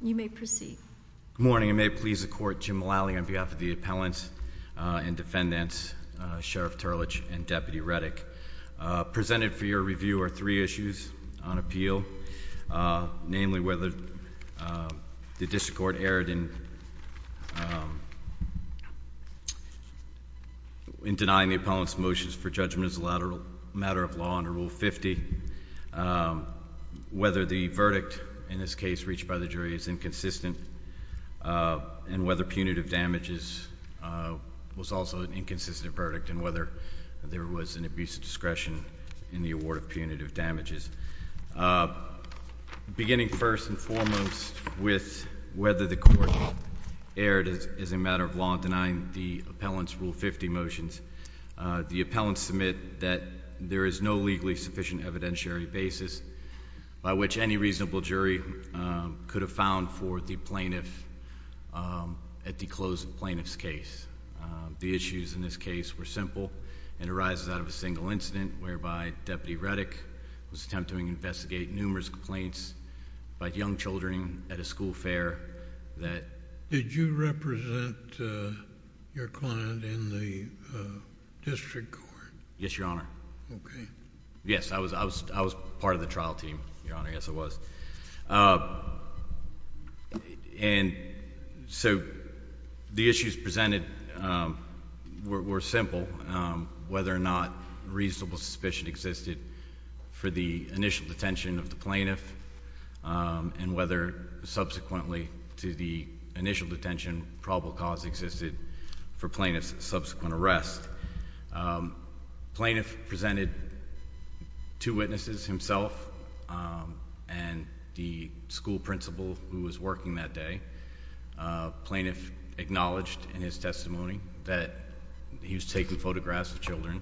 Good morning and may it please the court, Jim Mulally on behalf of the appellants and defendants, Sheriff Turlidge and Deputy Reddoch. Presented for your review are three issues on appeal, namely whether the district court erred in denying the appellant's motion for judgment as a matter of law under Rule 50, whether the verdict in this case reached by the jury is inconsistent, and whether punitive damages was also an inconsistent verdict, and whether there was an abuse of discretion in the award of punitive damages. Beginning first and foremost with whether the court erred as a matter of law in denying the appellant's Rule 50 motions, the appellants submit that there is no legally sufficient evidentiary basis by which any reasonable jury could have found for the plaintiff at the close of the plaintiff's case. The issues in this case were simple and arises out of a single incident whereby Deputy Reddoch was attempting to investigate numerous complaints about young children at a school fair that... Did you represent your client in the district court? Yes, Your Honor. Okay. Yes. I was part of the trial team, Your Honor, yes I was. And so, the issues presented were simple, whether or not reasonable suspicion existed for the initial detention of the plaintiff, and whether subsequently to the initial detention probable cause existed for plaintiff's subsequent arrest. Plaintiff presented two witnesses, himself and the school principal who was working that day. Plaintiff acknowledged in his testimony that he was taking photographs of children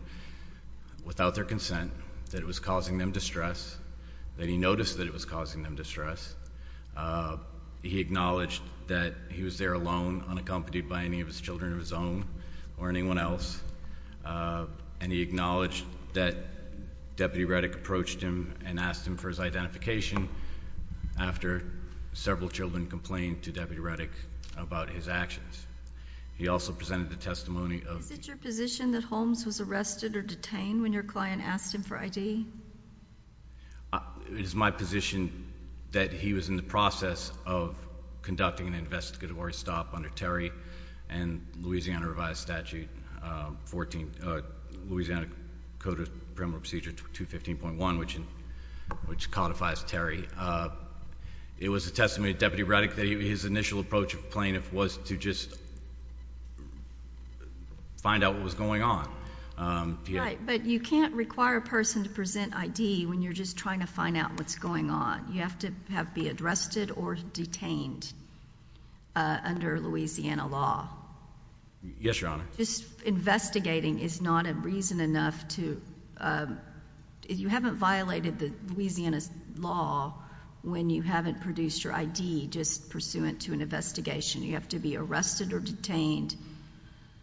without their consent, that it was causing them distress, that he noticed that it was causing them distress. He acknowledged that he was there alone, unaccompanied by any of his children of his own or anyone else, and he acknowledged that Deputy Reddoch approached him and asked him for his identification after several children complained to Deputy Reddoch about his actions. He also presented the testimony of... Is it your position that Holmes was arrested or detained when your client asked him for It is my position that he was in the process of conducting an investigatory stop under Terry and Louisiana Revised Statute, Louisiana Code of Criminal Procedure 215.1, which codifies Terry. It was the testimony of Deputy Reddoch that his initial approach of plaintiff was to just find out what was going on. Right, but you can't require a person to present ID when you're just trying to find out what's going on. You have to be arrested or detained under Louisiana law. Yes, Your Honor. Investigating is not a reason enough to... you haven't violated Louisiana's law when you haven't produced your ID just pursuant to an investigation. You have to be arrested or detained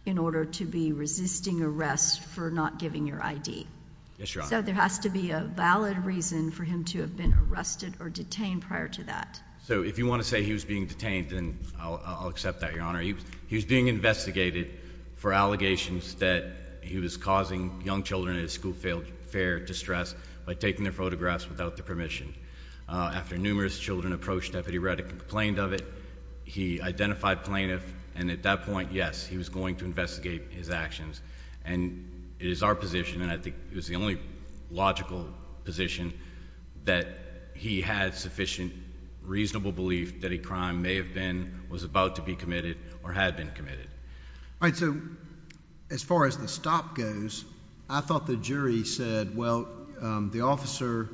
in order to be resisting arrest for not giving your ID. Yes, Your Honor. So there has to be a valid reason for him to have been arrested or detained prior to that. So if you want to say he was being detained, then I'll accept that, Your Honor. He was being investigated for allegations that he was causing young children in a school fair distress by taking their photographs without their permission. After numerous children approached Deputy Reddoch and complained of it, he identified plaintiff and at that point, yes, he was going to investigate his actions. And it is our position, and I think it was the only logical position, that he had sufficient reasonable belief that a crime may have been, was about to be committed, or had been committed. All right, so as far as the stop goes, I thought the jury said, well, the officer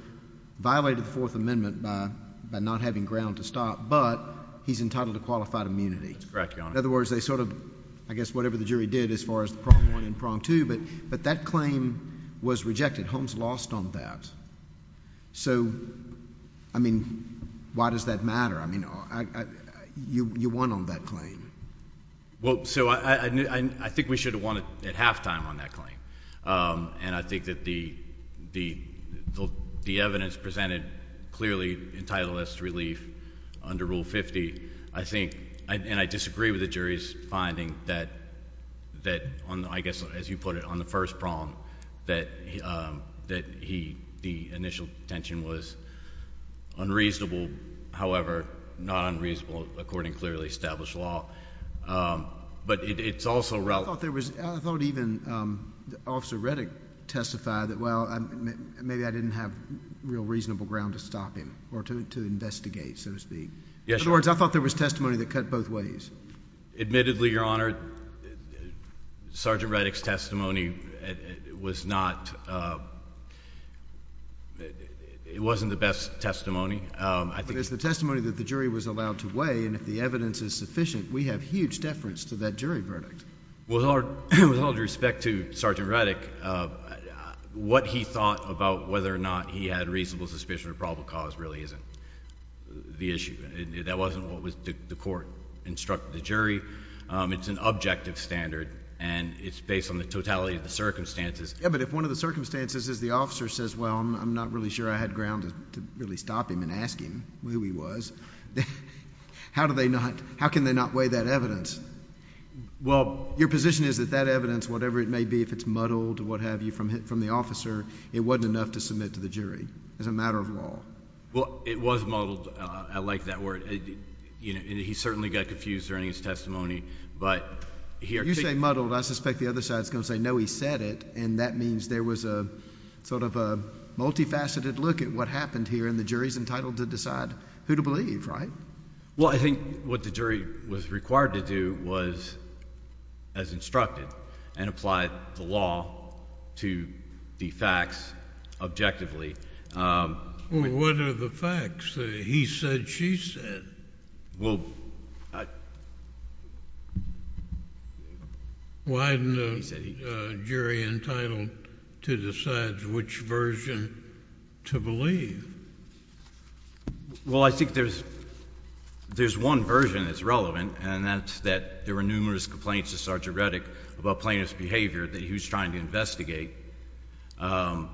violated the Fourth Amendment by not having ground to stop, but he's entitled to qualified immunity. That's correct, Your Honor. In other words, they sort of, I guess whatever the jury did as far as the prong one and prong two, but that claim was rejected. Holmes lost on that. So I mean, why does that matter? I mean, you won on that claim. Well, so I think we should have won at halftime on that claim. And I think that the evidence presented clearly entitled us to relief under Rule 50. I think, and I disagree with the jury's finding that, I guess as you put it, on the first prong that he, the initial intention was unreasonable, however, not unreasonable according to clearly established law. But it's also relevant. I thought there was, I thought even Officer Reddick testified that, well, maybe I didn't have real reasonable ground to stop him, or to investigate, so to speak. Yes, Your Honor. In other words, I thought there was testimony that cut both ways. Admittedly, Your Honor, Sergeant Reddick's testimony was not, it wasn't the best testimony. But it's the testimony that the jury was allowed to weigh, and if the evidence is sufficient, we have huge deference to that jury verdict. Well, with all due respect to Sergeant Reddick, what he thought about whether or not he had reasonable suspicion of probable cause really isn't the issue. That wasn't what the court instructed the jury. It's an objective standard, and it's based on the totality of the circumstances. Yeah, but if one of the circumstances is the officer says, well, I'm not really sure I had ground to really stop him and ask him who he was, how do they not, how can they not weigh that evidence? Well, your position is that that evidence, whatever it may be, if it's muddled, what have you, from the officer, it wasn't enough to submit to the jury as a matter of law. Well, it was muddled. I like that word. He certainly got confused during his testimony, but here... You say muddled. I suspect the other side's going to say, no, he said it, and that means there was a sort of a multifaceted look at what happened here, and the jury's entitled to decide who to believe, right? Well, I think what the jury was required to do was, as instructed, and applied the law to the facts objectively... Well, what are the facts? He said, she said. Well... Why isn't the jury entitled to decide which version to believe? Well, I think there's one version that's relevant, and that's that there were numerous complaints to Sergeant Reddick about plaintiff's behavior that he was trying to investigate. Well,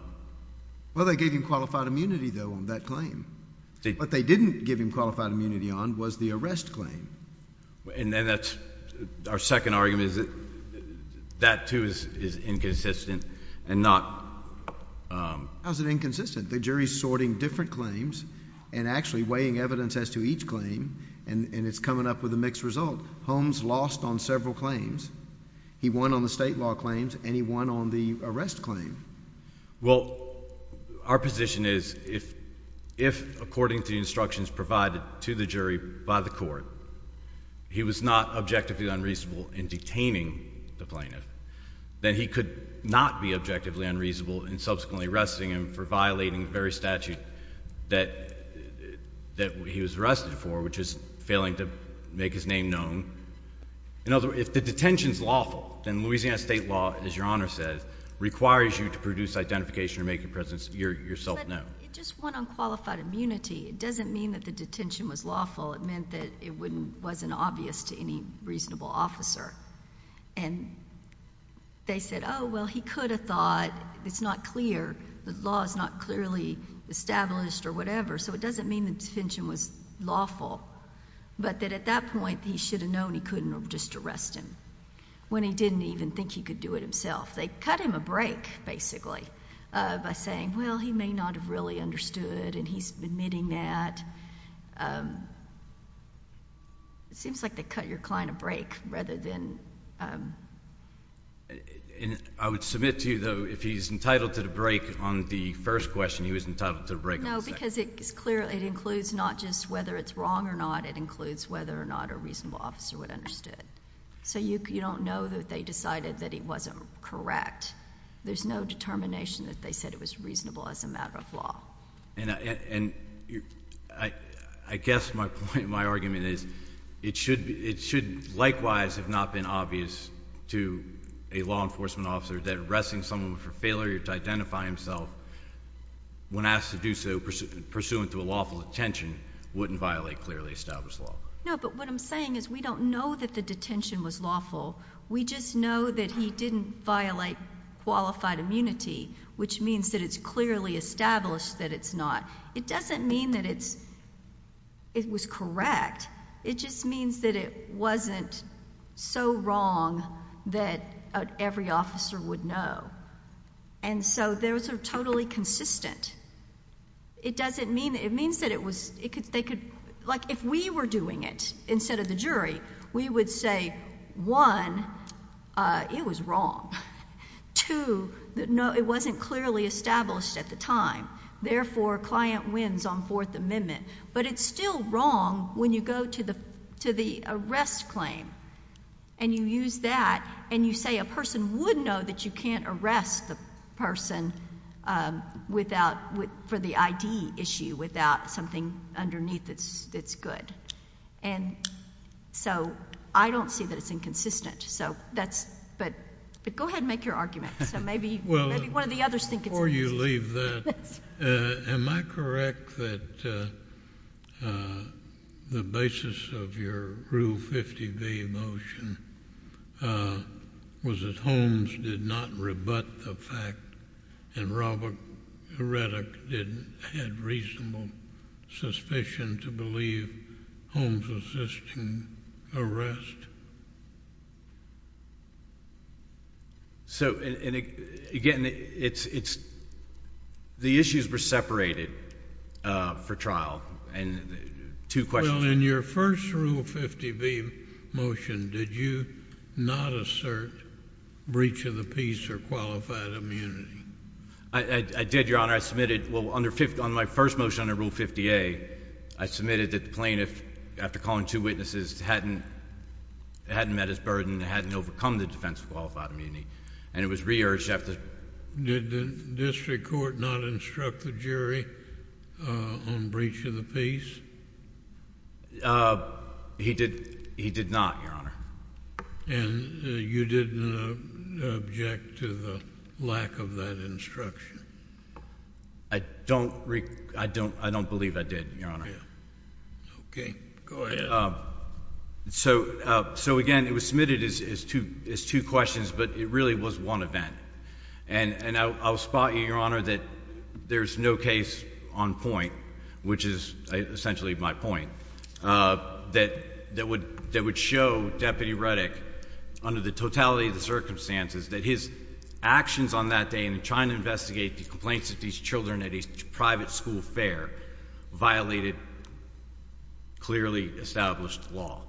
they gave him qualified immunity, though, on that claim. What they didn't give him qualified immunity on was the arrest claim. And then that's... our second argument is that that, too, is inconsistent and not... How is it inconsistent? The jury's sorting different claims and actually weighing evidence as to each claim, and it's coming up with a mixed result. Holmes lost on several claims. He won on the state law claims, and he won on the arrest claim. Well, our position is, if, according to the instructions provided to the jury by the court, he was not objectively unreasonable in detaining the plaintiff, then he could not be objectively unreasonable in subsequently arresting him for violating the very statute that he was arrested for, which is failing to make his name known. In other words, if the detention's lawful, then Louisiana state law, as Your Honor says, requires you to produce identification or make your presence yourself known. But it just won on qualified immunity. It doesn't mean that the detention was lawful. It meant that it wasn't obvious to any reasonable officer. And they said, oh, well, he could have thought, it's not clear, the law is not clearly established or whatever, so it doesn't mean the detention was lawful, but that at that point, he should have known he couldn't have just arrested him when he didn't even think he could do it himself. They cut him a break, basically, by saying, well, he may not have really understood and he's admitting that. It seems like they cut your client a break rather than... I would submit to you, though, if he's entitled to the break on the first question, he was entitled to the break on the second. No, because it includes not just whether it's wrong or not. It includes whether or not a reasonable officer would have understood. So you don't know that they decided that he wasn't correct. There's no determination that they said it was reasonable as a matter of law. And I guess my point, my argument is, it should likewise have not been obvious to a law enforcement officer that arresting someone for failure to identify himself when asked to do so pursuant to a lawful detention wouldn't violate clearly established law. No, but what I'm saying is we don't know that the detention was lawful. We just know that he didn't violate qualified immunity, which means that it's clearly established that it's not. It doesn't mean that it was correct. It just means that it wasn't so wrong that every officer would know. And so those are totally consistent. It doesn't mean... it means that it was... they could... like if we were doing it instead of the jury, we would say, one, it was wrong, two, it wasn't clearly established at the time, therefore client wins on Fourth Amendment. But it's still wrong when you go to the arrest claim and you use that and you say a person would know that you can't arrest the person without... for the ID issue without something underneath that's good. And so I don't see that it's inconsistent. So that's... but go ahead and make your argument. So maybe one of the others think it's inconsistent. Before you leave that, am I correct that the basis of your Rule 50B motion was that Holmes did not rebut the fact and Robert Reddick had reasonable suspicion to believe Holmes was assisting arrest? So... and again, it's... the issues were separated for trial and two questions... Well, in your first Rule 50B motion, did you not assert breach of the peace or qualified immunity? I did, Your Honor. I submitted... well, under... on my first motion under Rule 50A, I submitted that the defendant hadn't met his burden, hadn't overcome the defense of qualified immunity, and it was re-urged after... Did the district court not instruct the jury on breach of the peace? He did not, Your Honor. And you didn't object to the lack of that instruction? I don't... I don't believe I did, Your Honor. Okay. Go ahead. So... so again, it was submitted as two questions, but it really was one event. And I'll spot you, Your Honor, that there's no case on point, which is essentially my point, that would show Deputy Reddick, under the totality of the circumstances, that his actions on that day in trying to investigate the complaints of these children at a private school fair violated clearly established law.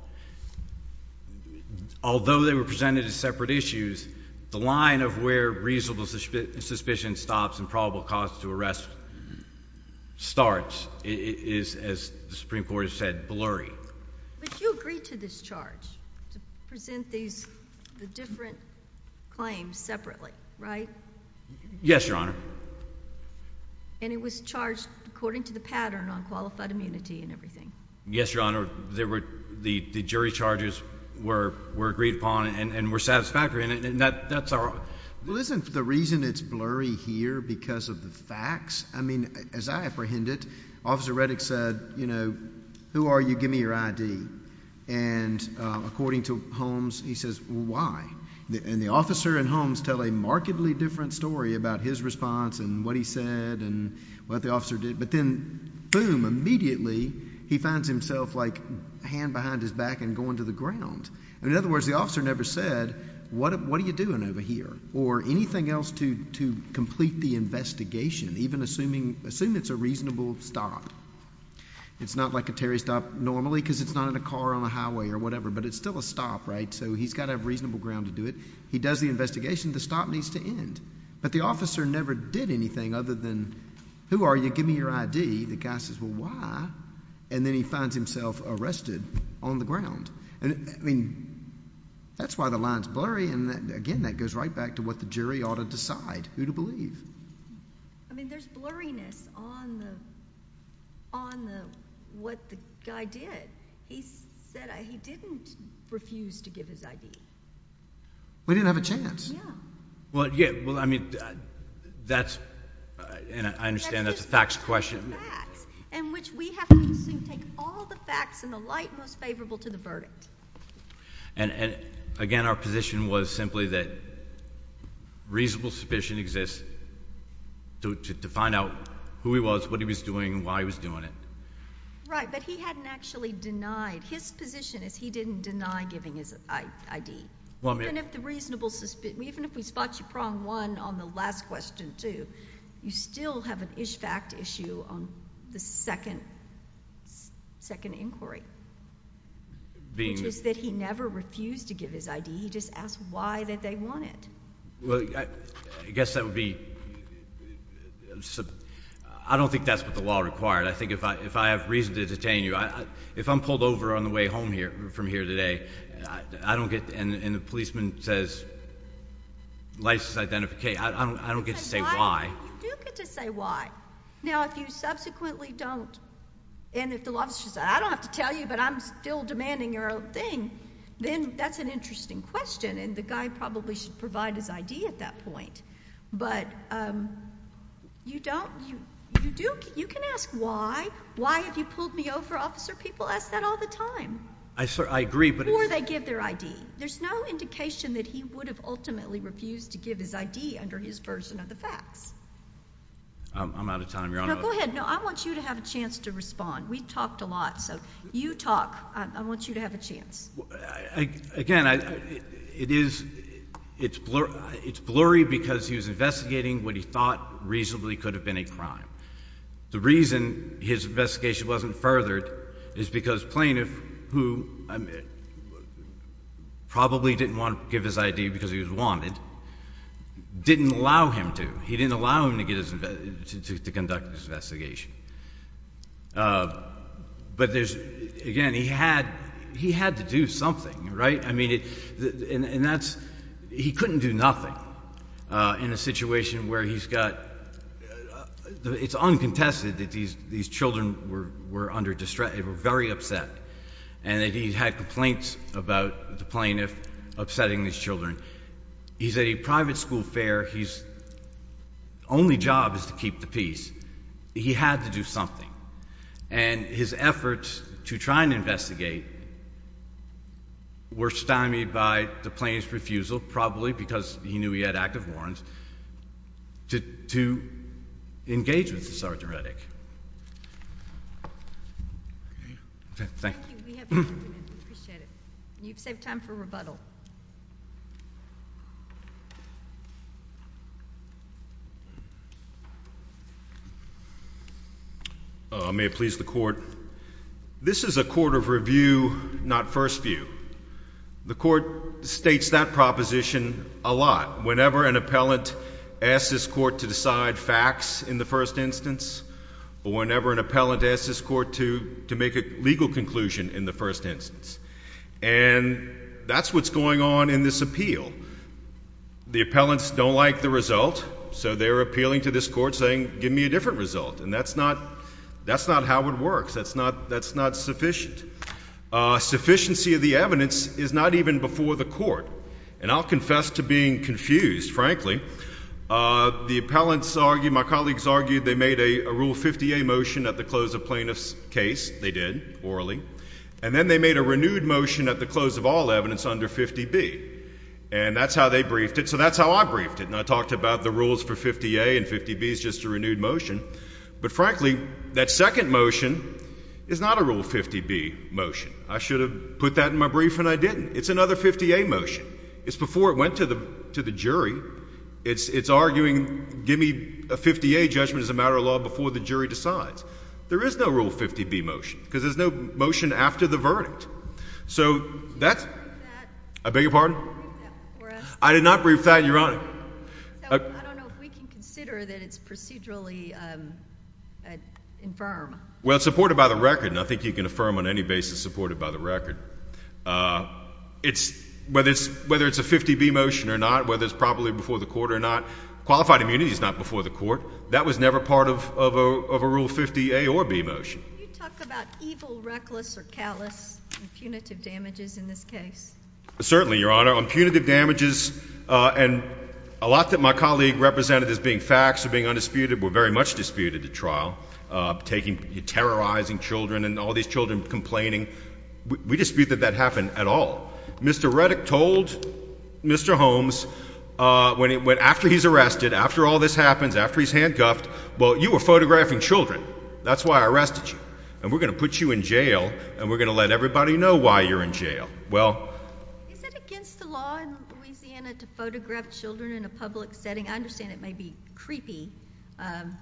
Although they were presented as separate issues, the line of where reasonable suspicion stops and probable cause to arrest starts is, as the Supreme Court has said, blurry. But you agreed to this charge, to present these... the different claims separately, right? Yes, Your Honor. And it was charged according to the pattern on qualified immunity and everything. Yes, Your Honor. There were... the jury charges were agreed upon and were satisfactory. And that's our... Well, isn't the reason it's blurry here because of the facts? I mean, as I apprehend it, Officer Reddick said, you know, who are you? Give me your ID. And according to Holmes, he says, well, why? And the officer and Holmes tell a markedly different story about his response and what he said and what the officer did. But then, boom, immediately he finds himself, like, a hand behind his back and going to the ground. And in other words, the officer never said, what are you doing over here? Or anything else to complete the investigation, even assuming it's a reasonable stop. It's not like a Terry stop normally because it's not in a car on a highway or whatever, but it's still a stop, right? So he's got to have reasonable ground to do it. He does the investigation. The stop needs to end. But the officer never did anything other than, who are you? Give me your ID. The guy says, well, why? And then he finds himself arrested on the ground. And, I mean, that's why the line's blurry. And, again, that goes right back to what the jury ought to decide, who to believe. I mean, there's blurriness on the... on the... what the guy did. He said he didn't refuse to give his ID. We didn't have a chance. Well, I mean, that's... and I understand that's a facts question. And which we have to assume take all the facts in the light most favorable to the verdict. And, again, our position was simply that reasonable suspicion exists to find out who he was, what he was doing, and why he was doing it. Right. But he hadn't actually denied... his position is he didn't deny giving his ID. Well, I mean... Even if the reasonable... even if we spot you prong one on the last question too, you still have an ish fact issue on the second inquiry. Being that... Which is that he never refused to give his ID. He just asked why that they wanted. Well, I guess that would be... I don't think that's what the law required. I think if I have reason to detain you, if I'm pulled over on the way home from here today, I don't get... and the policeman says, license identification, I don't get to say why. You do get to say why. Now, if you subsequently don't... and if the law says, I don't have to tell you, but I'm still demanding your own thing, then that's an interesting question. And the guy probably should provide his ID at that point. But you don't... you do... you can ask why. Why have you pulled me over, officer? People ask that all the time. I agree, but... Or they give their ID. There's no indication that he would have ultimately refused to give his ID under his version of the facts. I'm out of time. You're on... No, go ahead. No, I want you to have a chance to respond. We've talked a lot, so you talk. I want you to have a chance. Again, it is... it's blurry because he was investigating what he thought reasonably could have been a crime. The reason his investigation wasn't furthered is because plaintiff, who probably didn't want to give his ID because he was wanted, didn't allow him to. He didn't allow him to get his... to conduct his investigation. But there's... again, he had... he had to do something, right? I mean, it... and that's... he couldn't do nothing in a situation where he's got... It's uncontested that these children were under distress. They were very upset, and that he had complaints about the plaintiff upsetting these children. He's at a private school fair. His only job is to keep the peace. He had to do something. And his efforts to try and investigate were stymied by the plaintiff's refusal, probably because he knew he had active warrants, to engage with Sergeant Reddick. Thank you. We appreciate it. You've saved time for rebuttal. May it please the Court. This is a court of review, not first view. The Court states that proposition a lot, whenever an appellant asks this Court to decide facts in the first instance, or whenever an appellant asks this Court to make a legal conclusion in the first instance. And that's what's going on in this appeal. The appellants don't like the result, so they're appealing to this Court saying, give me a different result. And that's not how it works. That's not sufficient. Sufficiency of the evidence is not even before the Court. And I'll confess to being confused, frankly. The appellants argue, my colleagues argue, they made a Rule 50A motion at the close of plaintiff's case. They did, orally. And then they made a renewed motion at the close of all evidence under 50B. And that's how they briefed it. So that's how I briefed it. And I talked about the rules for 50A and 50B is just a renewed motion. But frankly, that second motion is not a Rule 50B motion. I should have put that in my brief and I didn't. It's another 50A motion. It's before it went to the jury. It's arguing, give me a 50A judgment as a matter of law before the jury decides. There is no Rule 50B motion because there's no motion after the verdict. So that's – I beg your pardon? You didn't brief that for us. I did not brief that, Your Honor. I don't know if we can consider that it's procedurally infirm. Well, it's supported by the record, and I think you can affirm on any basis supported by the record. Whether it's a 50B motion or not, whether it's properly before the Court or not, qualified immunity is not before the Court. That was never part of a Rule 50A or B motion. Can you talk about evil, reckless, or callous and punitive damages in this case? Certainly, Your Honor. On punitive damages, and a lot that my colleague represented as being facts or being undisputed, were very much disputed at trial, terrorizing children and all these children complaining. We dispute that that happened at all. Mr. Reddick told Mr. Holmes after he's arrested, after all this happens, after he's handcuffed, well, you were photographing children. That's why I arrested you, and we're going to put you in jail, and we're going to let everybody know why you're in jail. Is it against the law in Louisiana to photograph children in a public setting? I understand it may be creepy, but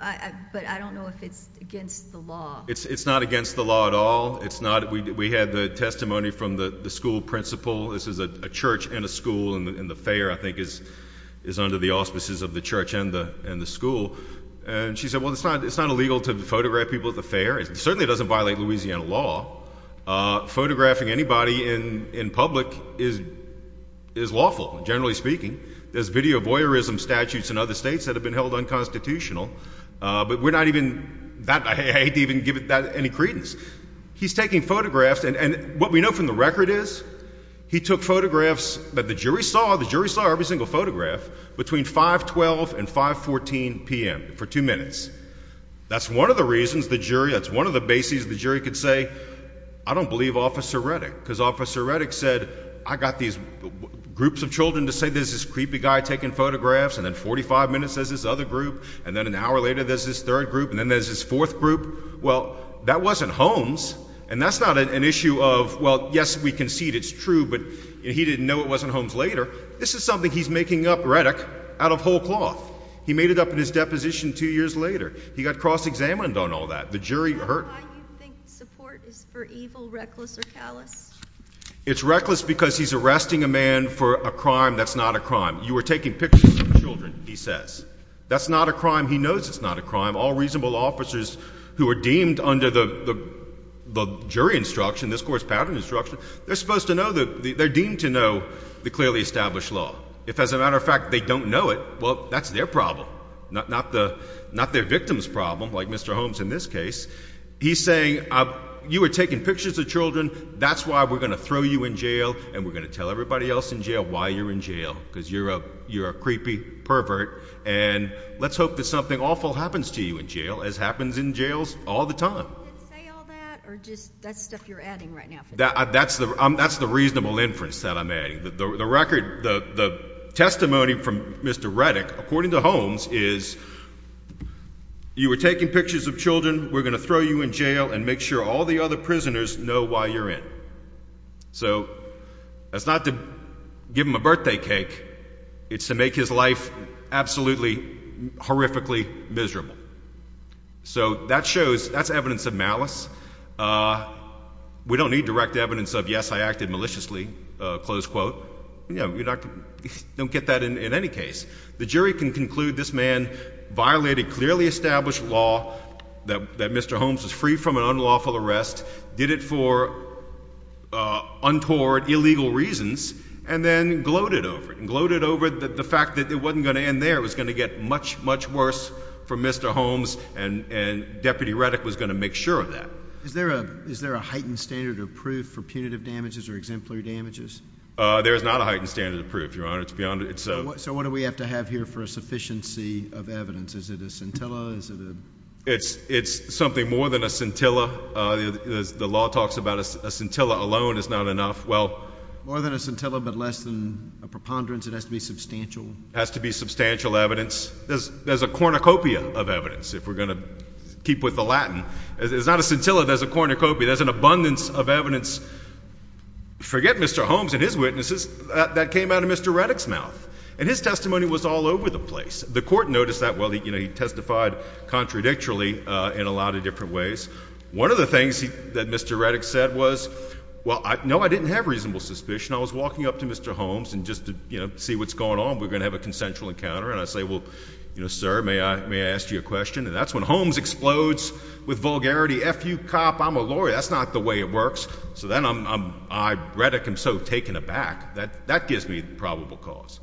I don't know if it's against the law. It's not against the law at all. We had the testimony from the school principal. This is a church and a school, and the fair, I think, is under the auspices of the church and the school. And she said, well, it's not illegal to photograph people at the fair. It certainly doesn't violate Louisiana law. Photographing anybody in public is lawful, generally speaking. There's video voyeurism statutes in other states that have been held unconstitutional, but we're not even—I hate to even give that any credence. He's taking photographs, and what we know from the record is he took photographs that the jury saw. The jury saw every single photograph between 512 and 514 p.m. for two minutes. That's one of the reasons the jury—that's one of the bases the jury could say, I don't believe Officer Reddick, because Officer Reddick said, I got these groups of children to say there's this creepy guy taking photographs, and then 45 minutes there's this other group, and then an hour later there's this third group, and then there's this fourth group. Well, that wasn't Holmes, and that's not an issue of, well, yes, we concede it's true, but he didn't know it wasn't Holmes later. This is something he's making up, Reddick, out of whole cloth. He made it up in his deposition two years later. He got cross-examined on all that. The jury heard— Is that why you think support is for evil, reckless, or callous? It's reckless because he's arresting a man for a crime that's not a crime. You were taking pictures of children, he says. That's not a crime. He knows it's not a crime. All reasonable officers who are deemed under the jury instruction, this Court's pattern instruction, they're supposed to know the—they're deemed to know the clearly established law. If, as a matter of fact, they don't know it, well, that's their problem, not their victim's problem, like Mr. Holmes in this case. He's saying, you were taking pictures of children, that's why we're going to throw you in jail, and we're going to tell everybody else in jail why you're in jail, because you're a creepy pervert, and let's hope that something awful happens to you in jail, as happens in jails all the time. Did he say all that, or just that's stuff you're adding right now? That's the reasonable inference that I'm adding. The record—the testimony from Mr. Reddick, according to Holmes, is you were taking pictures of children, we're going to throw you in jail, and make sure all the other prisoners know why you're in. So that's not to give him a birthday cake. It's to make his life absolutely, horrifically miserable. So that shows—that's evidence of malice. We don't need direct evidence of, yes, I acted maliciously, close quote. We don't get that in any case. The jury can conclude this man violated clearly established law, that Mr. Holmes was freed from an unlawful arrest, did it for untoward, illegal reasons, and then gloated over it, gloated over the fact that it wasn't going to end there, it was going to get much, much worse for Mr. Holmes, and Deputy Reddick was going to make sure of that. Is there a heightened standard of proof for punitive damages or exemplary damages? There is not a heightened standard of proof, Your Honor. So what do we have to have here for a sufficiency of evidence? Is it a scintilla? It's something more than a scintilla. The law talks about a scintilla alone is not enough. More than a scintilla, but less than a preponderance? It has to be substantial? It has to be substantial evidence. There's a cornucopia of evidence, if we're going to keep with the Latin. It's not a scintilla. There's a cornucopia. There's an abundance of evidence. Forget Mr. Holmes and his witnesses. That came out of Mr. Reddick's mouth, and his testimony was all over the place. The court noticed that. Well, he testified contradictorily in a lot of different ways. One of the things that Mr. Reddick said was, well, no, I didn't have reasonable suspicion. I was walking up to Mr. Holmes just to see what's going on. We're going to have a consensual encounter. And I say, well, sir, may I ask you a question? And that's when Holmes explodes with vulgarity. F you, cop, I'm a lawyer. That's not the way it works. So then I, Reddick, am so taken aback. That gives me probable cause.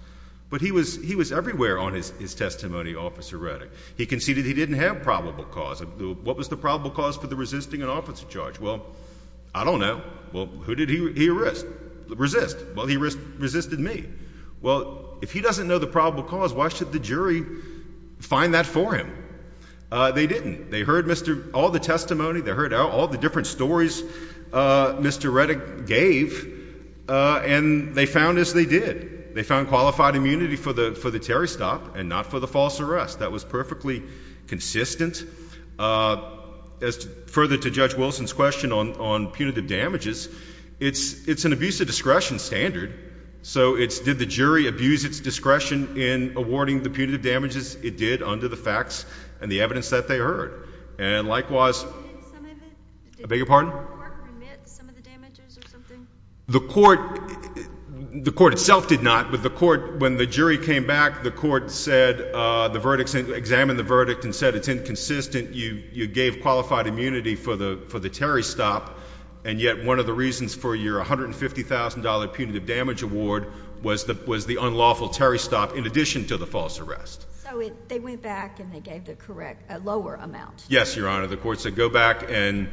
But he was everywhere on his testimony, Officer Reddick. He conceded he didn't have probable cause. What was the probable cause for the resisting an officer charge? Well, I don't know. Well, who did he resist? Well, he resisted me. Well, if he doesn't know the probable cause, why should the jury find that for him? They didn't. They heard all the testimony. They heard all the different stories Mr. Reddick gave. And they found as they did. They found qualified immunity for the Terry stop and not for the false arrest. That was perfectly consistent. Further to Judge Wilson's question on punitive damages, it's an abuse of discretion standard. So did the jury abuse its discretion in awarding the punitive damages? It did under the facts and the evidence that they heard. And likewise. Did the court commit some of the damages or something? The court itself did not. When the jury came back, the court examined the verdict and said it's inconsistent. You gave qualified immunity for the Terry stop. And yet one of the reasons for your $150,000 punitive damage award was the unlawful Terry stop in addition to the false arrest. So they went back and they gave a lower amount. Yes, Your Honor. The court said go back and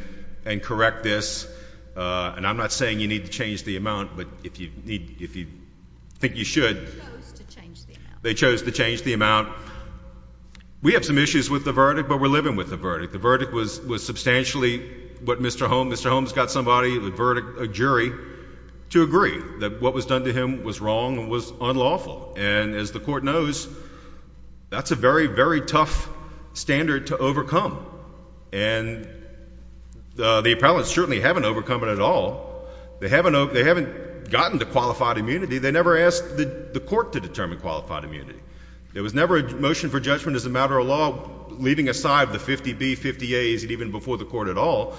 correct this. And I'm not saying you need to change the amount, but if you think you should. They chose to change the amount. They chose to change the amount. We have some issues with the verdict, but we're living with the verdict. The verdict was substantially what Mr. Holmes got somebody, a jury, to agree. That what was done to him was wrong and was unlawful. And as the court knows, that's a very, very tough standard to overcome. And the appellants certainly haven't overcome it at all. They haven't gotten to qualified immunity. They never asked the court to determine qualified immunity. There was never a motion for judgment as a matter of law leaving aside the 50B, 50A, even before the court at all.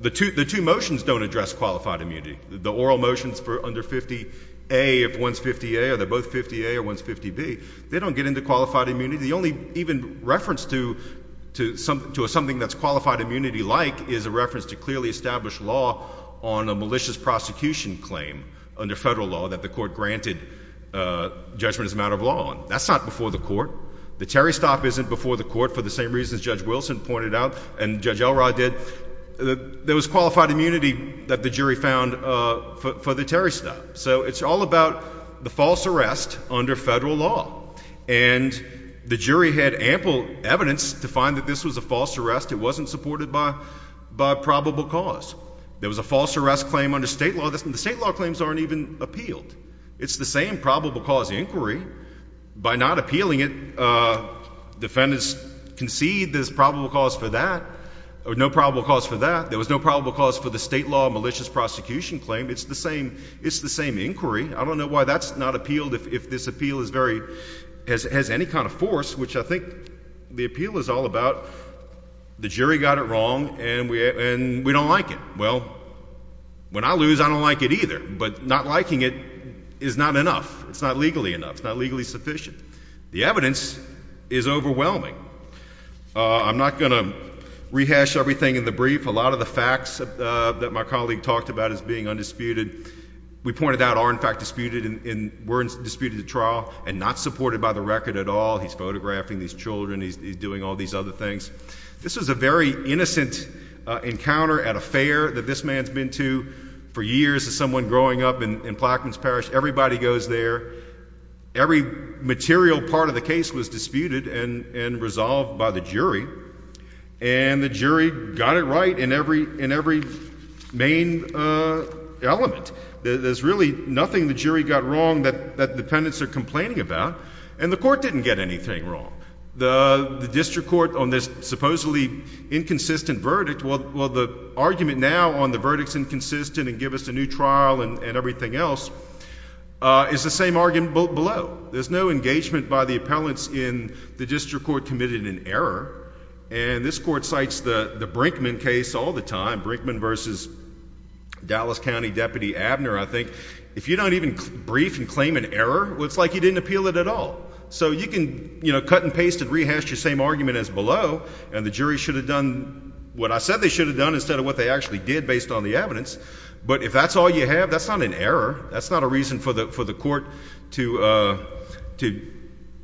The two motions don't address qualified immunity. The oral motions for under 50A, if one's 50A or they're both 50A or one's 50B, they don't get into qualified immunity. The only even reference to something that's qualified immunity-like is a reference to clearly established law on a malicious prosecution claim under federal law that the court granted judgment as a matter of law. That's not before the court. The Terry stop isn't before the court for the same reasons Judge Wilson pointed out and Judge Elrod did. There was qualified immunity that the jury found for the Terry stop. So it's all about the false arrest under federal law. And the jury had ample evidence to find that this was a false arrest. It wasn't supported by probable cause. There was a false arrest claim under state law. The state law claims aren't even appealed. It's the same probable cause inquiry. By not appealing it, defendants concede there's probable cause for that or no probable cause for that. There was no probable cause for the state law malicious prosecution claim. It's the same inquiry. I don't know why that's not appealed if this appeal has any kind of force, which I think the appeal is all about. The jury got it wrong, and we don't like it. Well, when I lose, I don't like it either. But not liking it is not enough. It's not legally enough. It's not legally sufficient. The evidence is overwhelming. I'm not going to rehash everything in the brief. A lot of the facts that my colleague talked about is being undisputed. We pointed out are, in fact, disputed and were disputed at trial and not supported by the record at all. He's photographing these children. He's doing all these other things. This was a very innocent encounter at a fair that this man's been to for years as someone growing up in Plaquemines Parish. Everybody goes there. Every material part of the case was disputed and resolved by the jury. And the jury got it right in every main element. There's really nothing the jury got wrong that the defendants are complaining about, and the court didn't get anything wrong. The district court on this supposedly inconsistent verdict, well, the argument now on the verdict's inconsistent and give us a new trial and everything else is the same argument below. There's no engagement by the appellants in the district court committed in error. And this court cites the Brinkman case all the time, Brinkman versus Dallas County Deputy Abner, I think. If you don't even brief and claim an error, well, it's like you didn't appeal it at all. So you can cut and paste and rehash your same argument as below, and the jury should have done what I said they should have done instead of what they actually did based on the evidence. But if that's all you have, that's not an error. That's not a reason for the court to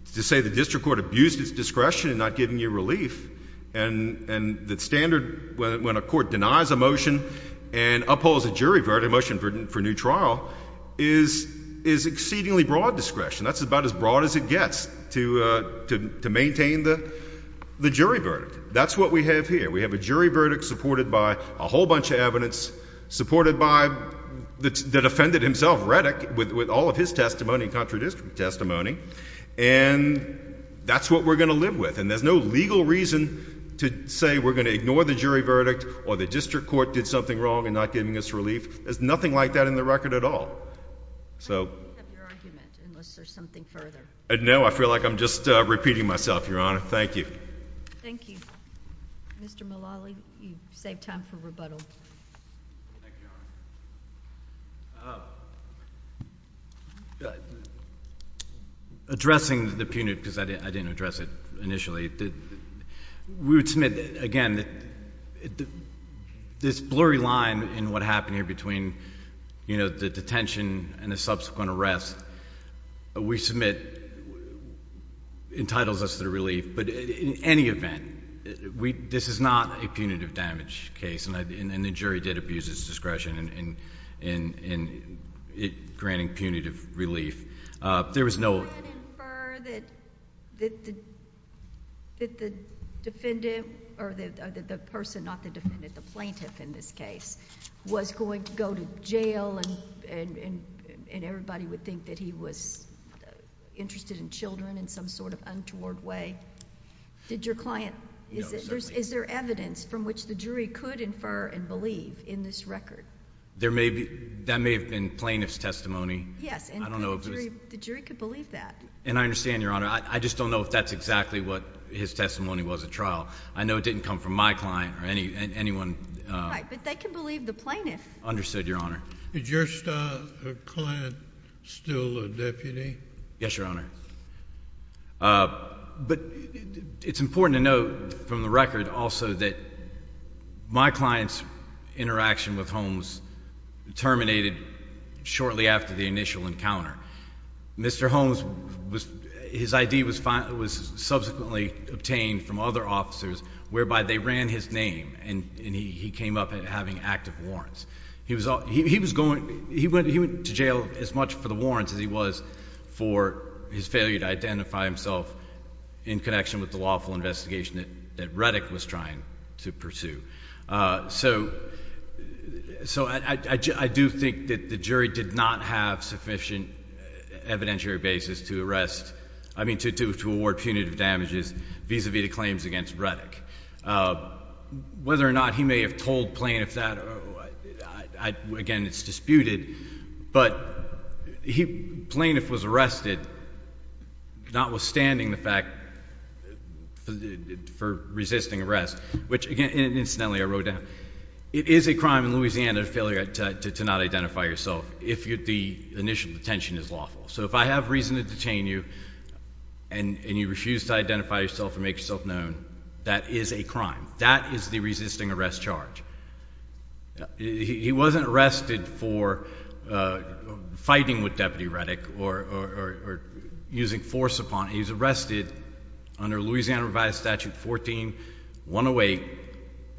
say the district court abused its discretion in not giving you relief. And the standard when a court denies a motion and upholds a jury verdict, a motion for new trial, is exceedingly broad discretion. That's about as broad as it gets to maintain the jury verdict. That's what we have here. We have a jury verdict supported by a whole bunch of evidence, supported by the defendant himself, Reddick, with all of his testimony, contradictory testimony. And that's what we're going to live with. And there's no legal reason to say we're going to ignore the jury verdict or the district court did something wrong in not giving us relief. There's nothing like that in the record at all. So. I don't want to make up your argument unless there's something further. No, I feel like I'm just repeating myself, Your Honor. Thank you. Thank you. Mr. Mullally, you've saved time for rebuttal. Thank you, Your Honor. Addressing the punitive, because I didn't address it initially, we would submit, again, that this blurry line in what happened here between the detention and the subsequent arrest we submit entitles us to the relief. But in any event, this is not a punitive damage case, and the jury did abuse its discretion in granting punitive relief. There was no... Did you infer that the defendant, or the person, not the defendant, the plaintiff in this case, was going to go to jail, and everybody would think that he was interested in children in some sort of untoward way? Did your client... No, certainly not. Is there evidence from which the jury could infer and believe in this record? That may have been plaintiff's testimony. Yes, and the jury could believe that. And I understand, Your Honor. I just don't know if that's exactly what his testimony was at trial. I know it didn't come from my client or anyone... Right, but they could believe the plaintiff. Understood, Your Honor. Is your client still a deputy? Yes, Your Honor. But it's important to note from the record also that my client's interaction with Holmes terminated shortly after the initial encounter. Mr. Holmes, his ID was subsequently obtained from other officers, whereby they ran his name, and he came up having active warrants. He was going... he went to jail as much for the warrants as he was for his failure to identify himself in connection with the lawful investigation that Reddick was trying to pursue. So, I do think that the jury did not have sufficient evidentiary basis to arrest... I mean, to award punitive damages vis-à-vis the claims against Reddick. Whether or not he may have told plaintiff that, again, it's disputed. But, he... the plaintiff was arrested, notwithstanding the fact for resisting arrest, which again, incidentally, I wrote down. It is a crime in Louisiana, a failure to not identify yourself, if the initial detention is lawful. So, if I have reason to detain you and you refuse to identify yourself and make yourself known, that is a crime. That is the resisting arrest charge. He wasn't arrested for fighting with Deputy Reddick or using force upon... He was arrested under Louisiana Revised Statute 14-108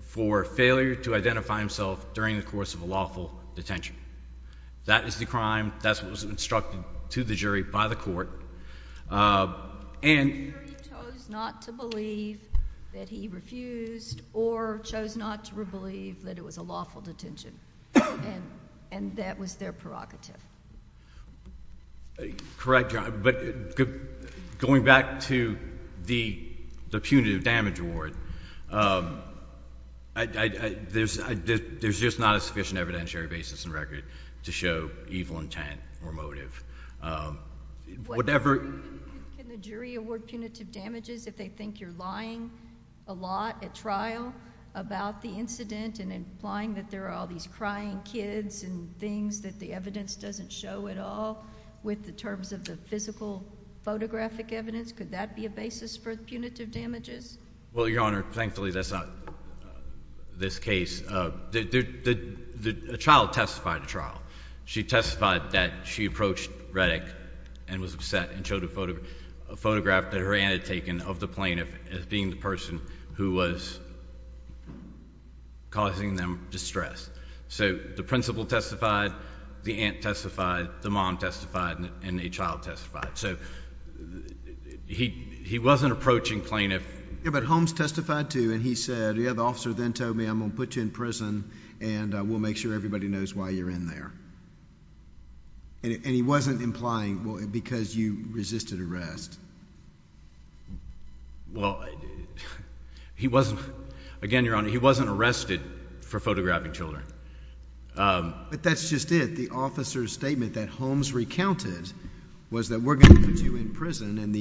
for failure to identify himself during the course of a lawful detention. That is the crime. That's what was instructed to the jury by the court. And... The jury chose not to believe that he refused or chose not to believe that it was a lawful detention. And, that was their prerogative. Correct, Your Honor. But, going back to the punitive damage award, there's just not a sufficient evidentiary basis and record to show evil intent or motive. Whatever... Can the jury award punitive damages if they think you're lying a lot at trial about the incident and implying that there are all these crying kids and things that the evidence doesn't show at all, with the terms of the physical photographic evidence? Could that be a basis for punitive damages? Well, Your Honor, thankfully, that's not this case. The child testified at trial. She testified that she approached Reddick and was upset and showed a photograph that her aunt had taken of the plaintiff as being the person who was causing them distress. So, the principal testified, the aunt testified, the mom testified, and the child testified. So, he wasn't approaching plaintiff... Yeah, but Holmes testified, too, and he said, Yeah, the officer then told me I'm going to put you in prison and we'll make sure everybody knows why you're in there. And he wasn't implying because you resisted arrest. Well, he wasn't... Again, Your Honor, he wasn't arrested for photographing children. But that's just it. The officer's statement that Holmes recounted was that we're going to put you in prison and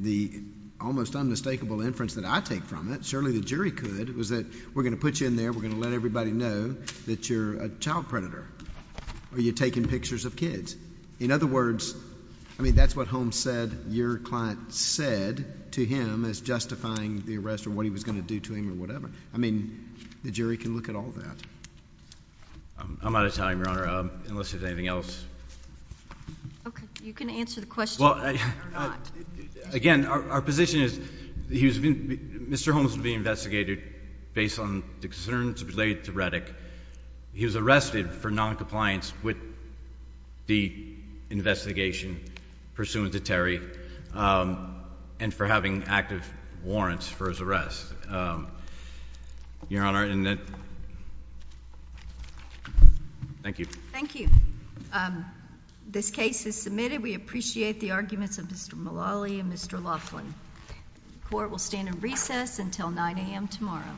the almost unmistakable inference that I take from it, surely the jury could, was that we're going to put you in there, we're going to let everybody know that you're a child predator or you're taking pictures of kids. In other words, I mean, that's what Holmes said your client said to him as justifying the arrest or what he was going to do to him or whatever. I mean, the jury can look at all that. I'm out of time, Your Honor, unless there's anything else. Okay. You can answer the question or not. Again, our position is Mr. Holmes was being investigated based on the concerns related to Reddick. He was arrested for noncompliance with the investigation pursuant to Terry and for having active warrants for his arrest, Your Honor. Thank you. Thank you. This case is submitted. We appreciate the arguments of Mr. Mullally and Mr. Laughlin. Court will stand in recess until 9 a.m. tomorrow.